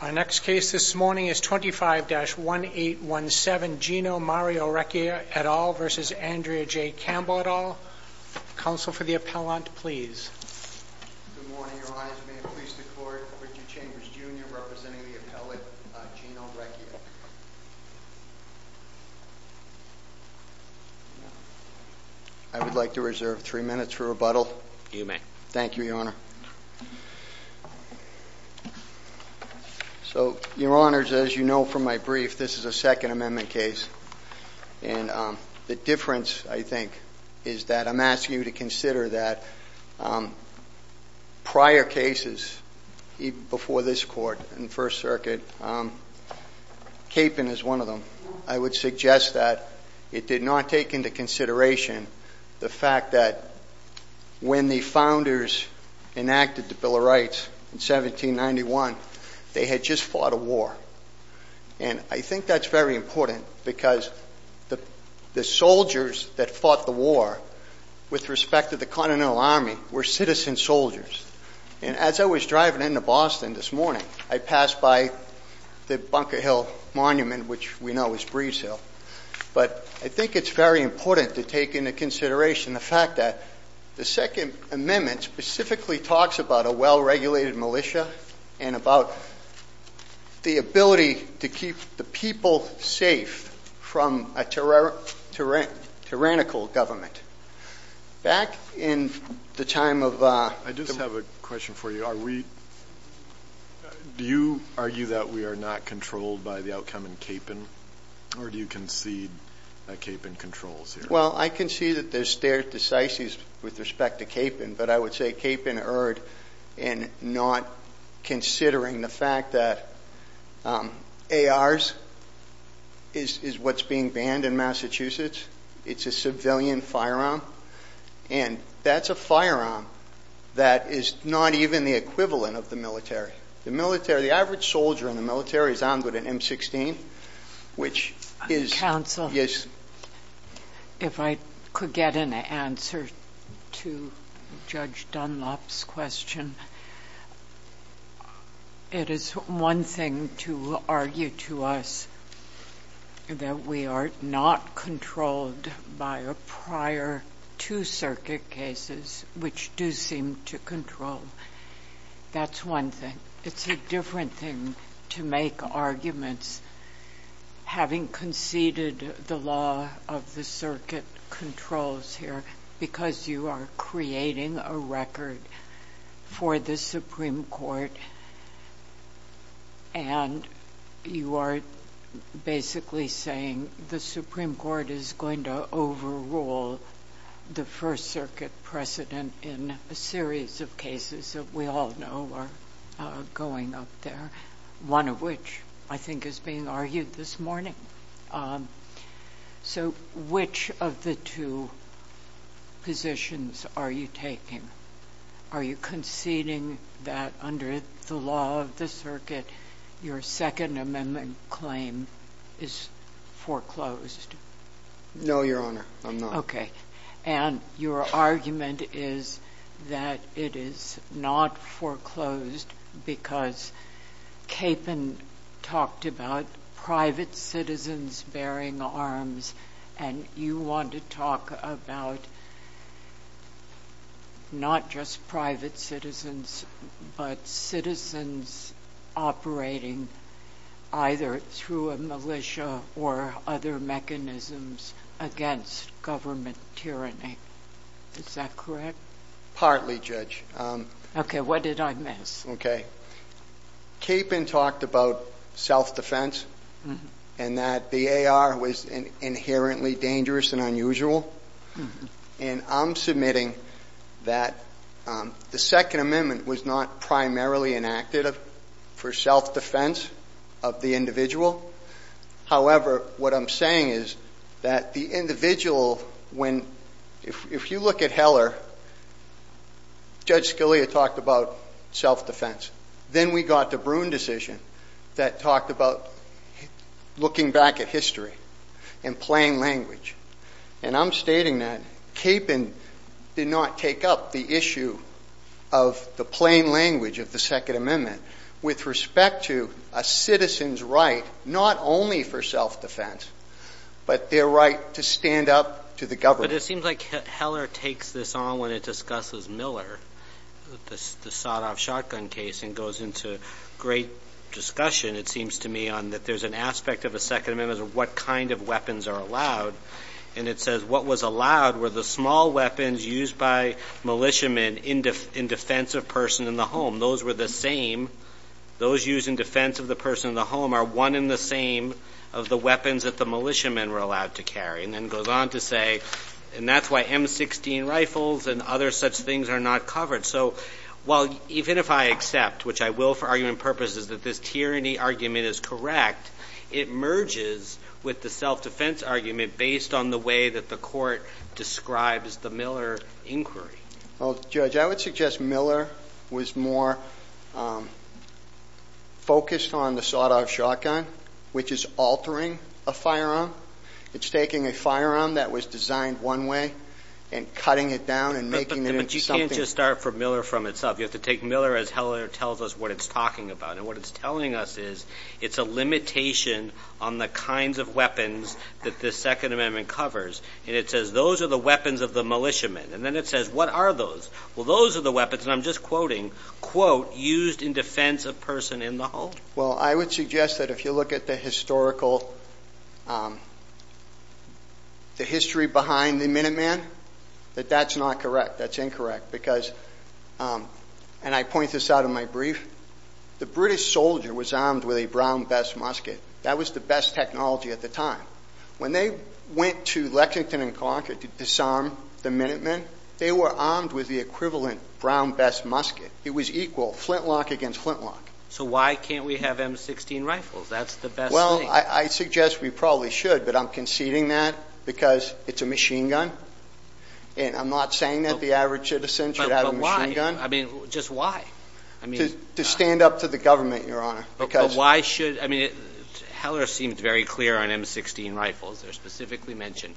Our next case this morning is 25-1817 Gino Mario Rechia et al. v. Andrea J. Campbell et al. Counsel for the appellant, please. Good morning. Your Honors, may it please the Court, Richard Chambers Jr. representing the appellate Gino Rechia. I would like to reserve three minutes for rebuttal. You may. Thank you, Your Honor. So, Your Honors, as you know from my brief, this is a Second Amendment case. And the difference, I think, is that I'm asking you to consider that prior cases before this Court in First Circuit, Capon is one of them, I would suggest that it did not take into consideration the fact that when the Founders enacted the Bill of Rights in 1791, they had just fought a war. And I think that's very important because the soldiers that fought the war with respect to the Continental Army were citizen soldiers. And as I was driving into Boston this morning, I passed by the Bunker Hill Monument, which we know is Breeze Hill. But I think it's very important to take into consideration the fact that the Second Amendment specifically talks about a well-regulated militia and about the ability to keep the people safe from a tyrannical government. Back in the time of the war. I just have a question for you. Do you argue that we are not controlled by the outcome in Capon, or do you concede that Capon controls here? Well, I concede that there's stare decisis with respect to Capon, but I would say Capon erred in not considering the fact that ARs is what's being banned in Massachusetts. It's a civilian firearm, and that's a firearm that is not even the equivalent of the military. The average soldier in the military is armed with an M-16, which is— Counsel, if I could get an answer to Judge Dunlop's question. It is one thing to argue to us that we are not controlled by prior two circuit cases, which do seem to control. That's one thing. It's a different thing to make arguments, having conceded the law of the circuit controls here, because you are creating a record for the Supreme Court, and you are basically saying the Supreme Court is going to overrule the first circuit precedent in a series of cases that we all know are going up there, one of which I think is being argued this morning. So which of the two positions are you taking? Are you conceding that under the law of the circuit, your Second Amendment claim is foreclosed? No, Your Honor. I'm not. Okay. And your argument is that it is not foreclosed because Capon talked about private citizens bearing arms, and you want to talk about not just private citizens, but citizens operating either through a militia or other mechanisms against government tyranny. Is that correct? Partly, Judge. Okay. What did I miss? Okay. Capon talked about self-defense and that the AR was inherently dangerous and unusual, and I'm submitting that the Second Amendment was not primarily enacted for self-defense of the individual. However, what I'm saying is that the individual, when, if you look at Heller, Judge Scalia talked about self-defense. Then we got the Bruin decision that talked about looking back at history in plain language. And I'm stating that Capon did not take up the issue of the plain language of the Second Amendment with respect to a citizen's right not only for self-defense, but their right to stand up to the government. But it seems like Heller takes this on when it discusses Miller, the sawed-off shotgun case, and goes into great discussion, it seems to me, on that there's an aspect of the Second Amendment of what kind of weapons are allowed. And it says what was allowed were the small weapons used by militiamen in defense of a person in the home. Those were the same. Those used in defense of the person in the home are one and the same of the weapons that the militiamen were allowed to carry. And then goes on to say, and that's why M16 rifles and other such things are not covered. So while even if I accept, which I will for argument purposes, that this tyranny argument is correct, it merges with the self-defense argument based on the way that the court describes the Miller inquiry. Well, Judge, I would suggest Miller was more focused on the sawed-off shotgun, which is altering a firearm. It's taking a firearm that was designed one way and cutting it down and making it into something. But you can't just start from Miller from itself. You have to take Miller as Heller tells us what it's talking about. And what it's telling us is it's a limitation on the kinds of weapons that the Second Amendment covers. And it says those are the weapons of the militiamen. And then it says, what are those? Well, those are the weapons, and I'm just quoting, quote, used in defense of person in the home. Well, I would suggest that if you look at the historical, the history behind the Minuteman, that that's not correct. That's incorrect because, and I point this out in my brief, the British soldier was armed with a brown vest musket. That was the best technology at the time. When they went to Lexington and Concord to disarm the Minutemen, they were armed with the equivalent brown vest musket. It was equal, flintlock against flintlock. So why can't we have M16 rifles? That's the best thing. Well, I suggest we probably should, but I'm conceding that because it's a machine gun. And I'm not saying that the average citizen should have a machine gun. But why? I mean, just why? To stand up to the government, Your Honor. I mean, Heller seemed very clear on M16 rifles. They're specifically mentioned.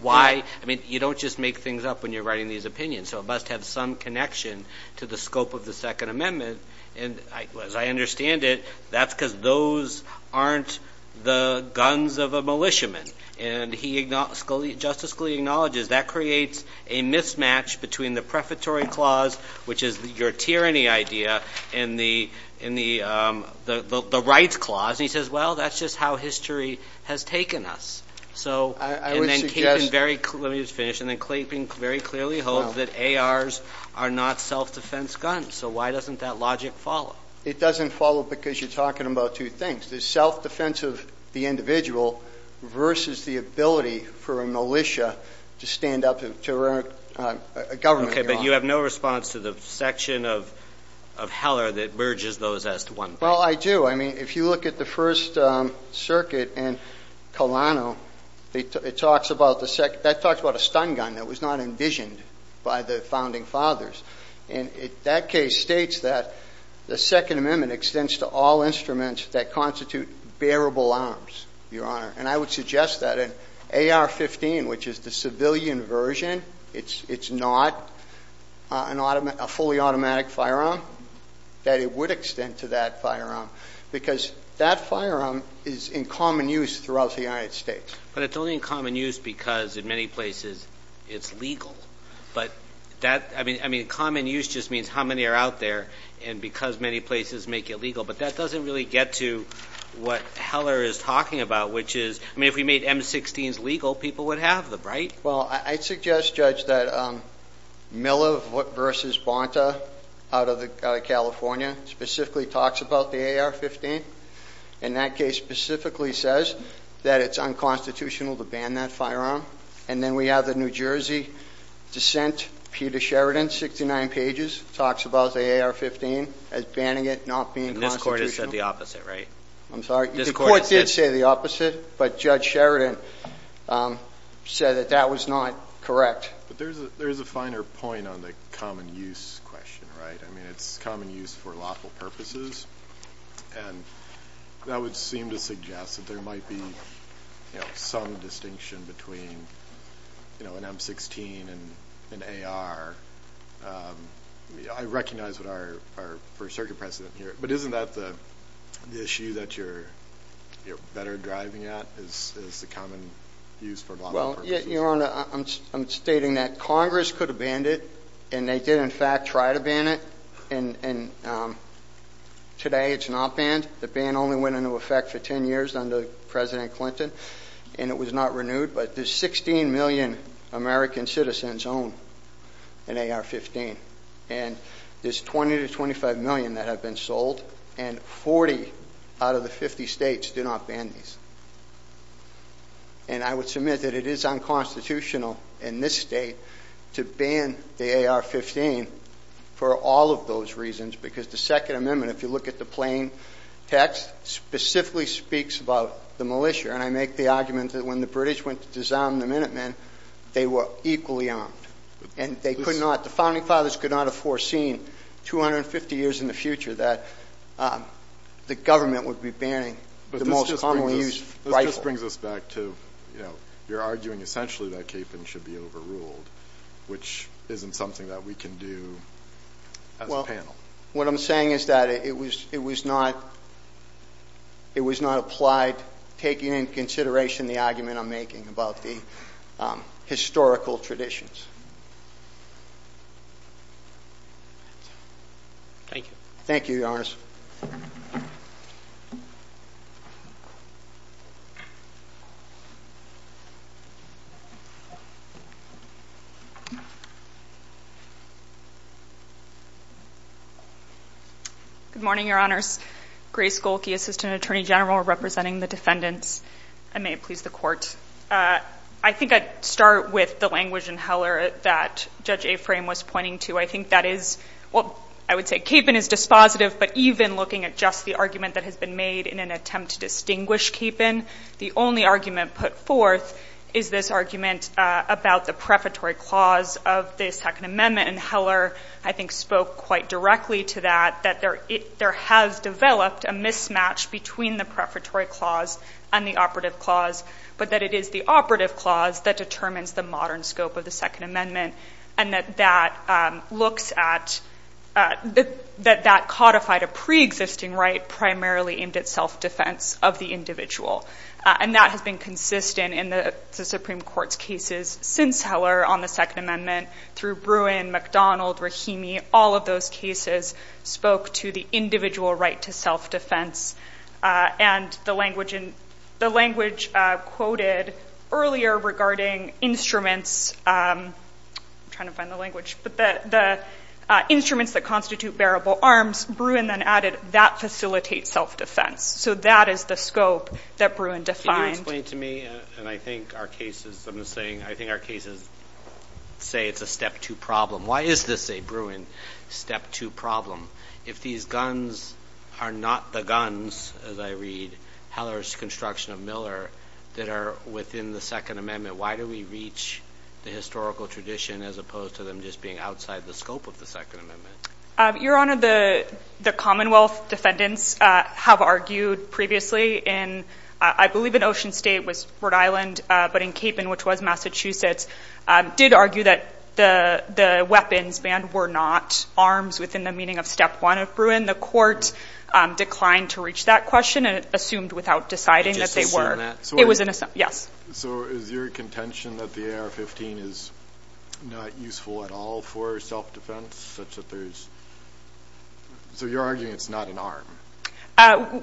Why? I mean, you don't just make things up when you're writing these opinions. So it must have some connection to the scope of the Second Amendment. And as I understand it, that's because those aren't the guns of a militiaman. And Justice Scalia acknowledges that creates a mismatch between the prefatory clause, which is your tyranny idea, and the rights clause. And he says, well, that's just how history has taken us. And then Clayton very clearly hopes that ARs are not self-defense guns. So why doesn't that logic follow? It doesn't follow because you're talking about two things. The self-defense of the individual versus the ability for a militia to stand up to a government, Your Honor. But you have no response to the section of Heller that merges those as to one. Well, I do. I mean, if you look at the First Circuit in Colano, that talks about a stun gun that was not envisioned by the founding fathers. And that case states that the Second Amendment extends to all instruments that constitute bearable arms, Your Honor. And I would suggest that an AR-15, which is the civilian version, it's not a fully automatic firearm, that it would extend to that firearm. Because that firearm is in common use throughout the United States. But it's only in common use because in many places it's legal. But that, I mean, common use just means how many are out there, and because many places make it legal. But that doesn't really get to what Heller is talking about, which is, I mean, if we made M-16s legal, people would have them, right? Well, I'd suggest, Judge, that Miller v. Bonta out of California specifically talks about the AR-15. And that case specifically says that it's unconstitutional to ban that firearm. And then we have the New Jersey dissent, Peter Sheridan, 69 pages, talks about the AR-15 as banning it, not being constitutional. And this Court has said the opposite, right? I'm sorry? This Court has said- The Court did say the opposite, but Judge Sheridan said that that was not correct. But there's a finer point on the common use question, right? I mean, it's common use for lawful purposes. And that would seem to suggest that there might be some distinction between an M-16 and an AR. I recognize our First Circuit precedent here. But isn't that the issue that you're better driving at is the common use for lawful purposes? Your Honor, I'm stating that Congress could have banned it, and they did in fact try to ban it. And today it's not banned. The ban only went into effect for 10 years under President Clinton. And it was not renewed. But there's 16 million American citizens own an AR-15. And there's 20 to 25 million that have been sold. And 40 out of the 50 states do not ban these. And I would submit that it is unconstitutional in this state to ban the AR-15 for all of those reasons, because the Second Amendment, if you look at the plain text, specifically speaks about the militia. And I make the argument that when the British went to disarm the Minutemen, they were equally armed. And they could not, the Founding Fathers could not have foreseen 250 years in the future that the government would be banning the most commonly used rifle. But this just brings us back to, you know, you're arguing essentially that caping should be overruled, which isn't something that we can do as a panel. Well, what I'm saying is that it was not applied, taking into consideration the argument I'm making about the historical traditions. Thank you. Thank you, Your Honors. Good morning, Your Honors. Grace Golke, Assistant Attorney General, representing the defendants. And may it please the Court, I think I'd start with the language in Heller. I think the argument that Judge Aframe was pointing to, I think that is, well, I would say caping is dispositive, but even looking at just the argument that has been made in an attempt to distinguish caping, the only argument put forth is this argument about the prefatory clause of the Second Amendment. And Heller, I think, spoke quite directly to that, that there has developed a mismatch between the prefatory clause and the operative clause, but that it is the operative clause that determines the modern scope of the Second Amendment, and that that looks at that codified a preexisting right primarily aimed at self-defense of the individual. And that has been consistent in the Supreme Court's cases since Heller on the Second Amendment, through Bruin, McDonald, Rahimi, all of those cases spoke to the individual right to self-defense. And the language quoted earlier regarding instruments, I'm trying to find the language, but the instruments that constitute bearable arms, Bruin then added, that facilitates self-defense. So that is the scope that Bruin defined. Can you explain to me, and I think our cases, I'm just saying, I think our cases say it's a step-two problem. Why is this a, Bruin, step-two problem? If these guns are not the guns, as I read, Heller's construction of Miller, that are within the Second Amendment, why do we reach the historical tradition as opposed to them just being outside the scope of the Second Amendment? Your Honor, the Commonwealth defendants have argued previously in, I believe in Ocean State was Rhode Island, but in Capon, which was Massachusetts, did argue that the weapons banned were not arms within the meaning of step one of Bruin. The court declined to reach that question and assumed without deciding that they were. Did you just assume that? Yes. So is your contention that the AR-15 is not useful at all for self-defense, such that there's, so you're arguing it's not an arm?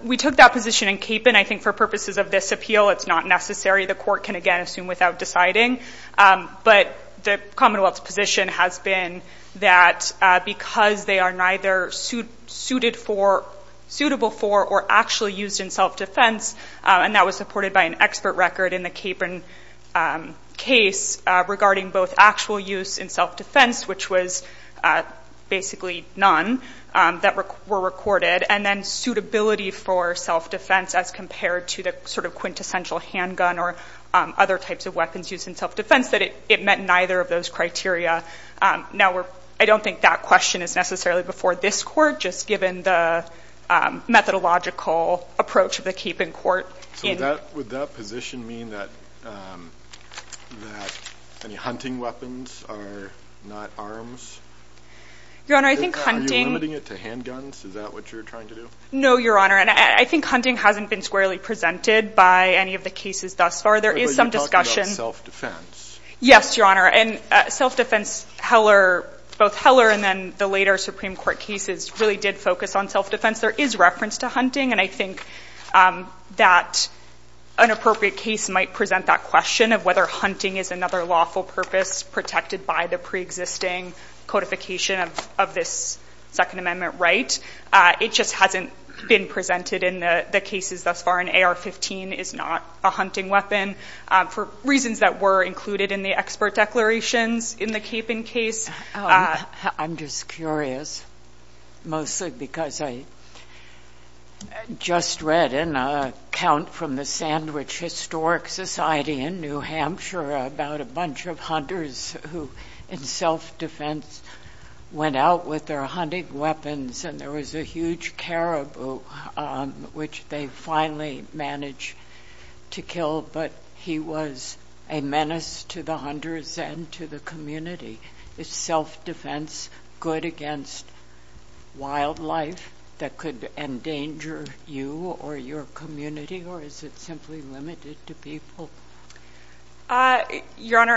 We took that position in Capon, I think for purposes of this appeal, it's not necessary. The court can, again, assume without deciding. But the Commonwealth's position has been that because they are neither suitable for or actually used in self-defense, and that was supported by an expert record in the Capon case regarding both actual use in self-defense, which was basically none, that were recorded, and then suitability for self-defense as compared to the sort of quintessential handgun or other types of weapons used in self-defense, that it met neither of those criteria. Now, I don't think that question is necessarily before this court, just given the methodological approach of the Capon court. So would that position mean that hunting weapons are not arms? Your Honor, I think hunting – Is that what you're trying to do? No, Your Honor. And I think hunting hasn't been squarely presented by any of the cases thus far. There is some discussion – But you're talking about self-defense. Yes, Your Honor. And self-defense, both Heller and then the later Supreme Court cases really did focus on self-defense. There is reference to hunting. And I think that an appropriate case might present that question of whether hunting is another lawful purpose protected by the preexisting codification of this Second Amendment right. It just hasn't been presented in the cases thus far, and AR-15 is not a hunting weapon, for reasons that were included in the expert declarations in the Capon case. I'm just curious, mostly because I just read an account from the Sandwich Historic Society in New Hampshire about a bunch of hunters who, in self-defense, went out with their hunting weapons, and there was a huge caribou which they finally managed to kill, but he was a menace to the hunters and to the community. Is self-defense good against wildlife that could endanger you or your community, or is it simply limited to people? Your Honor,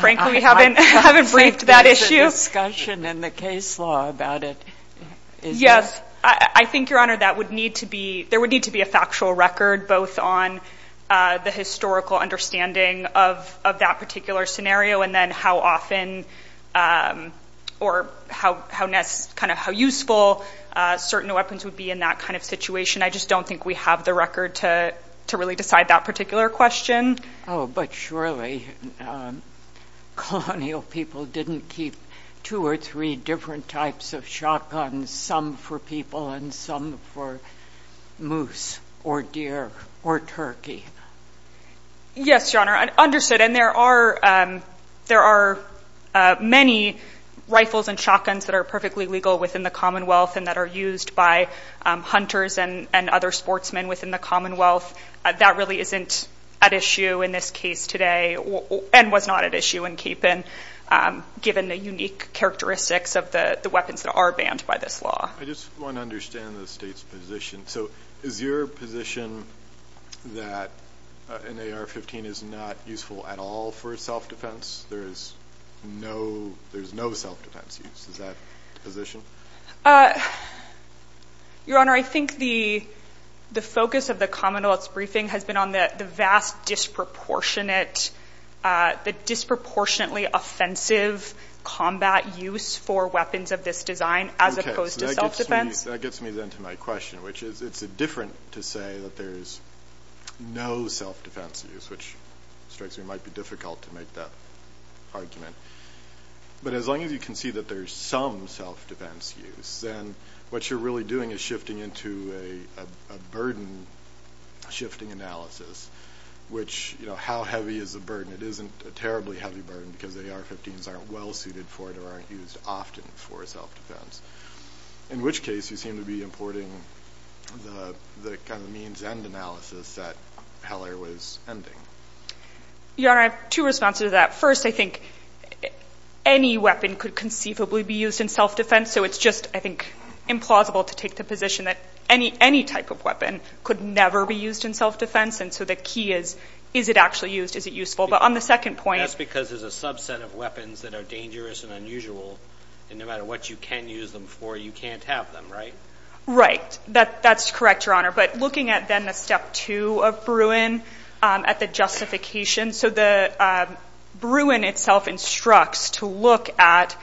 frankly, we haven't briefed that issue. I thought there was a discussion in the case law about it. Yes, I think, Your Honor, there would need to be a factual record both on the historical understanding of that particular scenario and then how often or how useful certain weapons would be in that kind of situation. I just don't think we have the record to really decide that particular question. Oh, but surely colonial people didn't keep two or three different types of shotguns, some for people and some for moose or deer or turkey. Yes, Your Honor, understood. And there are many rifles and shotguns that are perfectly legal within the Commonwealth and that are used by hunters and other sportsmen within the Commonwealth. That really isn't at issue in this case today and was not at issue in Capon given the unique characteristics of the weapons that are banned by this law. I just want to understand the State's position. So is your position that an AR-15 is not useful at all for self-defense? There is no self-defense use. Is that the position? Your Honor, I think the focus of the Commonwealth's briefing has been on the vast disproportionate, the disproportionately offensive combat use for weapons of this design as opposed to self-defense. Okay, so that gets me then to my question, which is it's different to say that there is no self-defense use, which strikes me might be difficult to make that argument. But as long as you can see that there is some self-defense use, then what you're really doing is shifting into a burden shifting analysis, which, you know, how heavy is the burden? It isn't a terribly heavy burden because AR-15s aren't well suited for it or aren't used often for self-defense, in which case you seem to be importing the kind of means-end analysis that Heller was ending. Your Honor, I have two responses to that. First, I think any weapon could conceivably be used in self-defense, so it's just, I think, implausible to take the position that any type of weapon could never be used in self-defense. And so the key is, is it actually used? Is it useful? But on the second point— That's because there's a subset of weapons that are dangerous and unusual, and no matter what you can use them for, you can't have them, right? Right. That's correct, Your Honor. But looking at then the step two of Bruin, at the justification. So the Bruin itself instructs to look at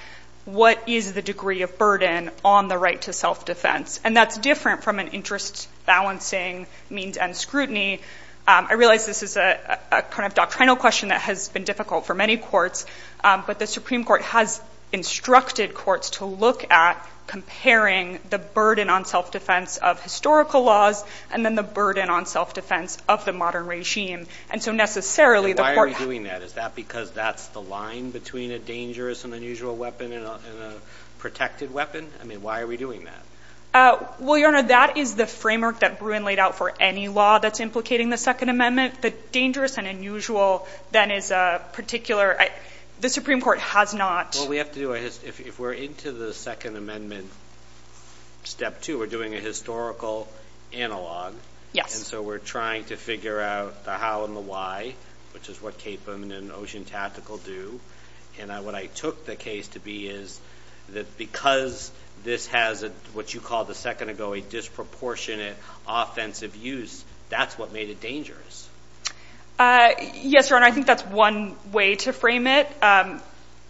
what is the degree of burden on the right to self-defense, and that's different from an interest-balancing means-end scrutiny. I realize this is a kind of doctrinal question that has been difficult for many courts, but the Supreme Court has instructed courts to look at comparing the burden on self-defense of historical laws and then the burden on self-defense of the modern regime. And so necessarily the court— Why are we doing that? Is that because that's the line between a dangerous and unusual weapon and a protected weapon? I mean, why are we doing that? Well, Your Honor, that is the framework that Bruin laid out for any law that's implicating the Second Amendment. The dangerous and unusual then is a particular—the Supreme Court has not— Well, we have to do a—if we're into the Second Amendment step two, we're doing a historical analog. Yes. And so we're trying to figure out the how and the why, which is what Capon and Ocean Tactical do. And what I took the case to be is that because this has what you called a second ago, a disproportionate offensive use, that's what made it dangerous. Yes, Your Honor. I think that's one way to frame it,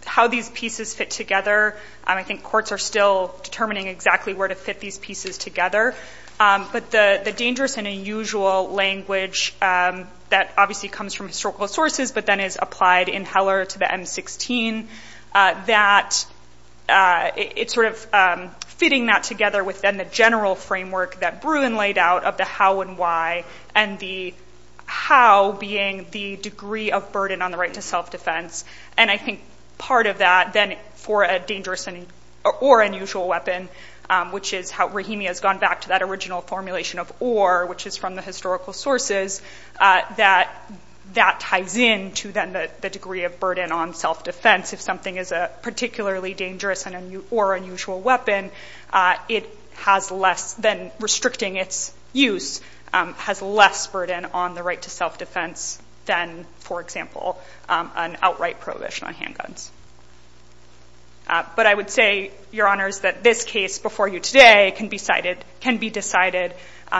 how these pieces fit together. I think courts are still determining exactly where to fit these pieces together. But the dangerous and unusual language that obviously comes from historical sources but then is applied in Heller to the M-16, that it's sort of fitting that together with then the general framework that Bruin laid out of the how and why and the how being the degree of burden on the right to self-defense. And I think part of that then for a dangerous or unusual weapon, which is how Rahimi has gone back to that original formulation of or, which is from the historical sources, that that ties in to then the degree of burden on self-defense. If something is a particularly dangerous or unusual weapon, it has less than restricting its use, has less burden on the right to self-defense than, for example, an outright prohibition on handguns. But I would say, Your Honors, that this case before you today can be decided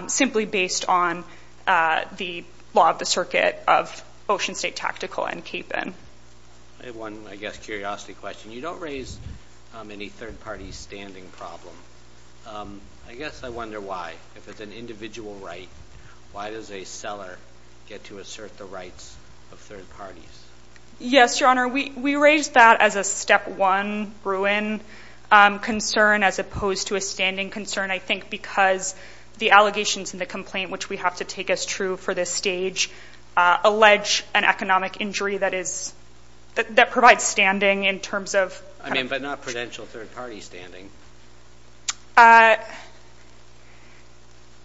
simply based on the law of the circuit of Ocean State Tactical and CAPEN. I have one, I guess, curiosity question. You don't raise any third-party standing problem. I guess I wonder why. If it's an individual right, why does a seller get to assert the rights of third parties? Yes, Your Honor, we raise that as a step one Bruin concern as opposed to a standing concern, I think, because the allegations in the complaint, which we have to take as true for this stage, allege an economic injury that is, that provides standing in terms of. I mean, but not prudential third-party standing.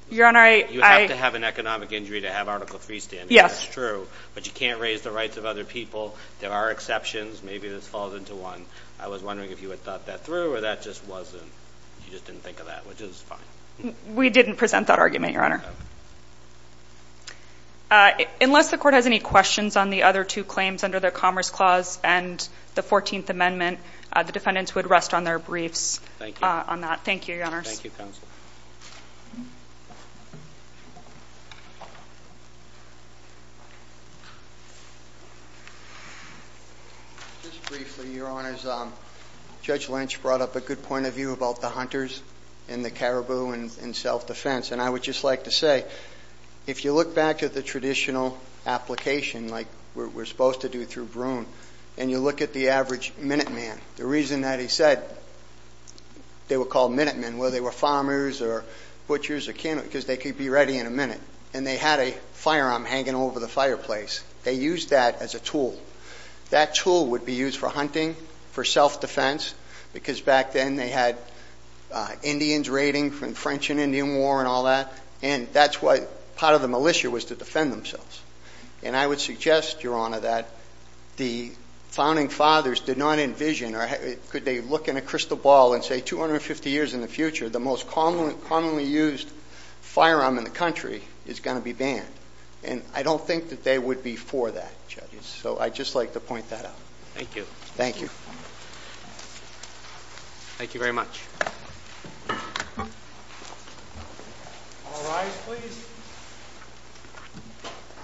Your Honor, I. You have to have an economic injury to have Article III standing. Yes. That's true. But you can't raise the rights of other people. There are exceptions. Maybe this falls into one. I was wondering if you had thought that through, or that just wasn't, you just didn't think of that, which is fine. We didn't present that argument, Your Honor. Okay. Unless the Court has any questions on the other two claims under the Commerce Clause and the 14th Amendment, the defendants would rest on their briefs on that. Thank you, Your Honors. Thank you, Counsel. Just briefly, Your Honors, Judge Lynch brought up a good point of view about the hunters and the caribou and self-defense. And I would just like to say, if you look back at the traditional application, like we're supposed to do through Broome, and you look at the average minute man, the reason that he said they were called minute men, whether they were farmers or butchers or cannibals, because they could be ready in a minute, and they had a firearm hanging over the fireplace. They used that as a tool. That tool would be used for hunting, for self-defense, because back then they had Indians raiding from the French and Indian War and all that, and that's what part of the militia was to defend themselves. And I would suggest, Your Honor, that the Founding Fathers did not envision or could they look in a crystal ball and say 250 years in the future, the most commonly used firearm in the country is going to be banned. And I don't think that they would be for that, judges. So I'd just like to point that out. Thank you. Thank you. Thank you very much. All rise, please.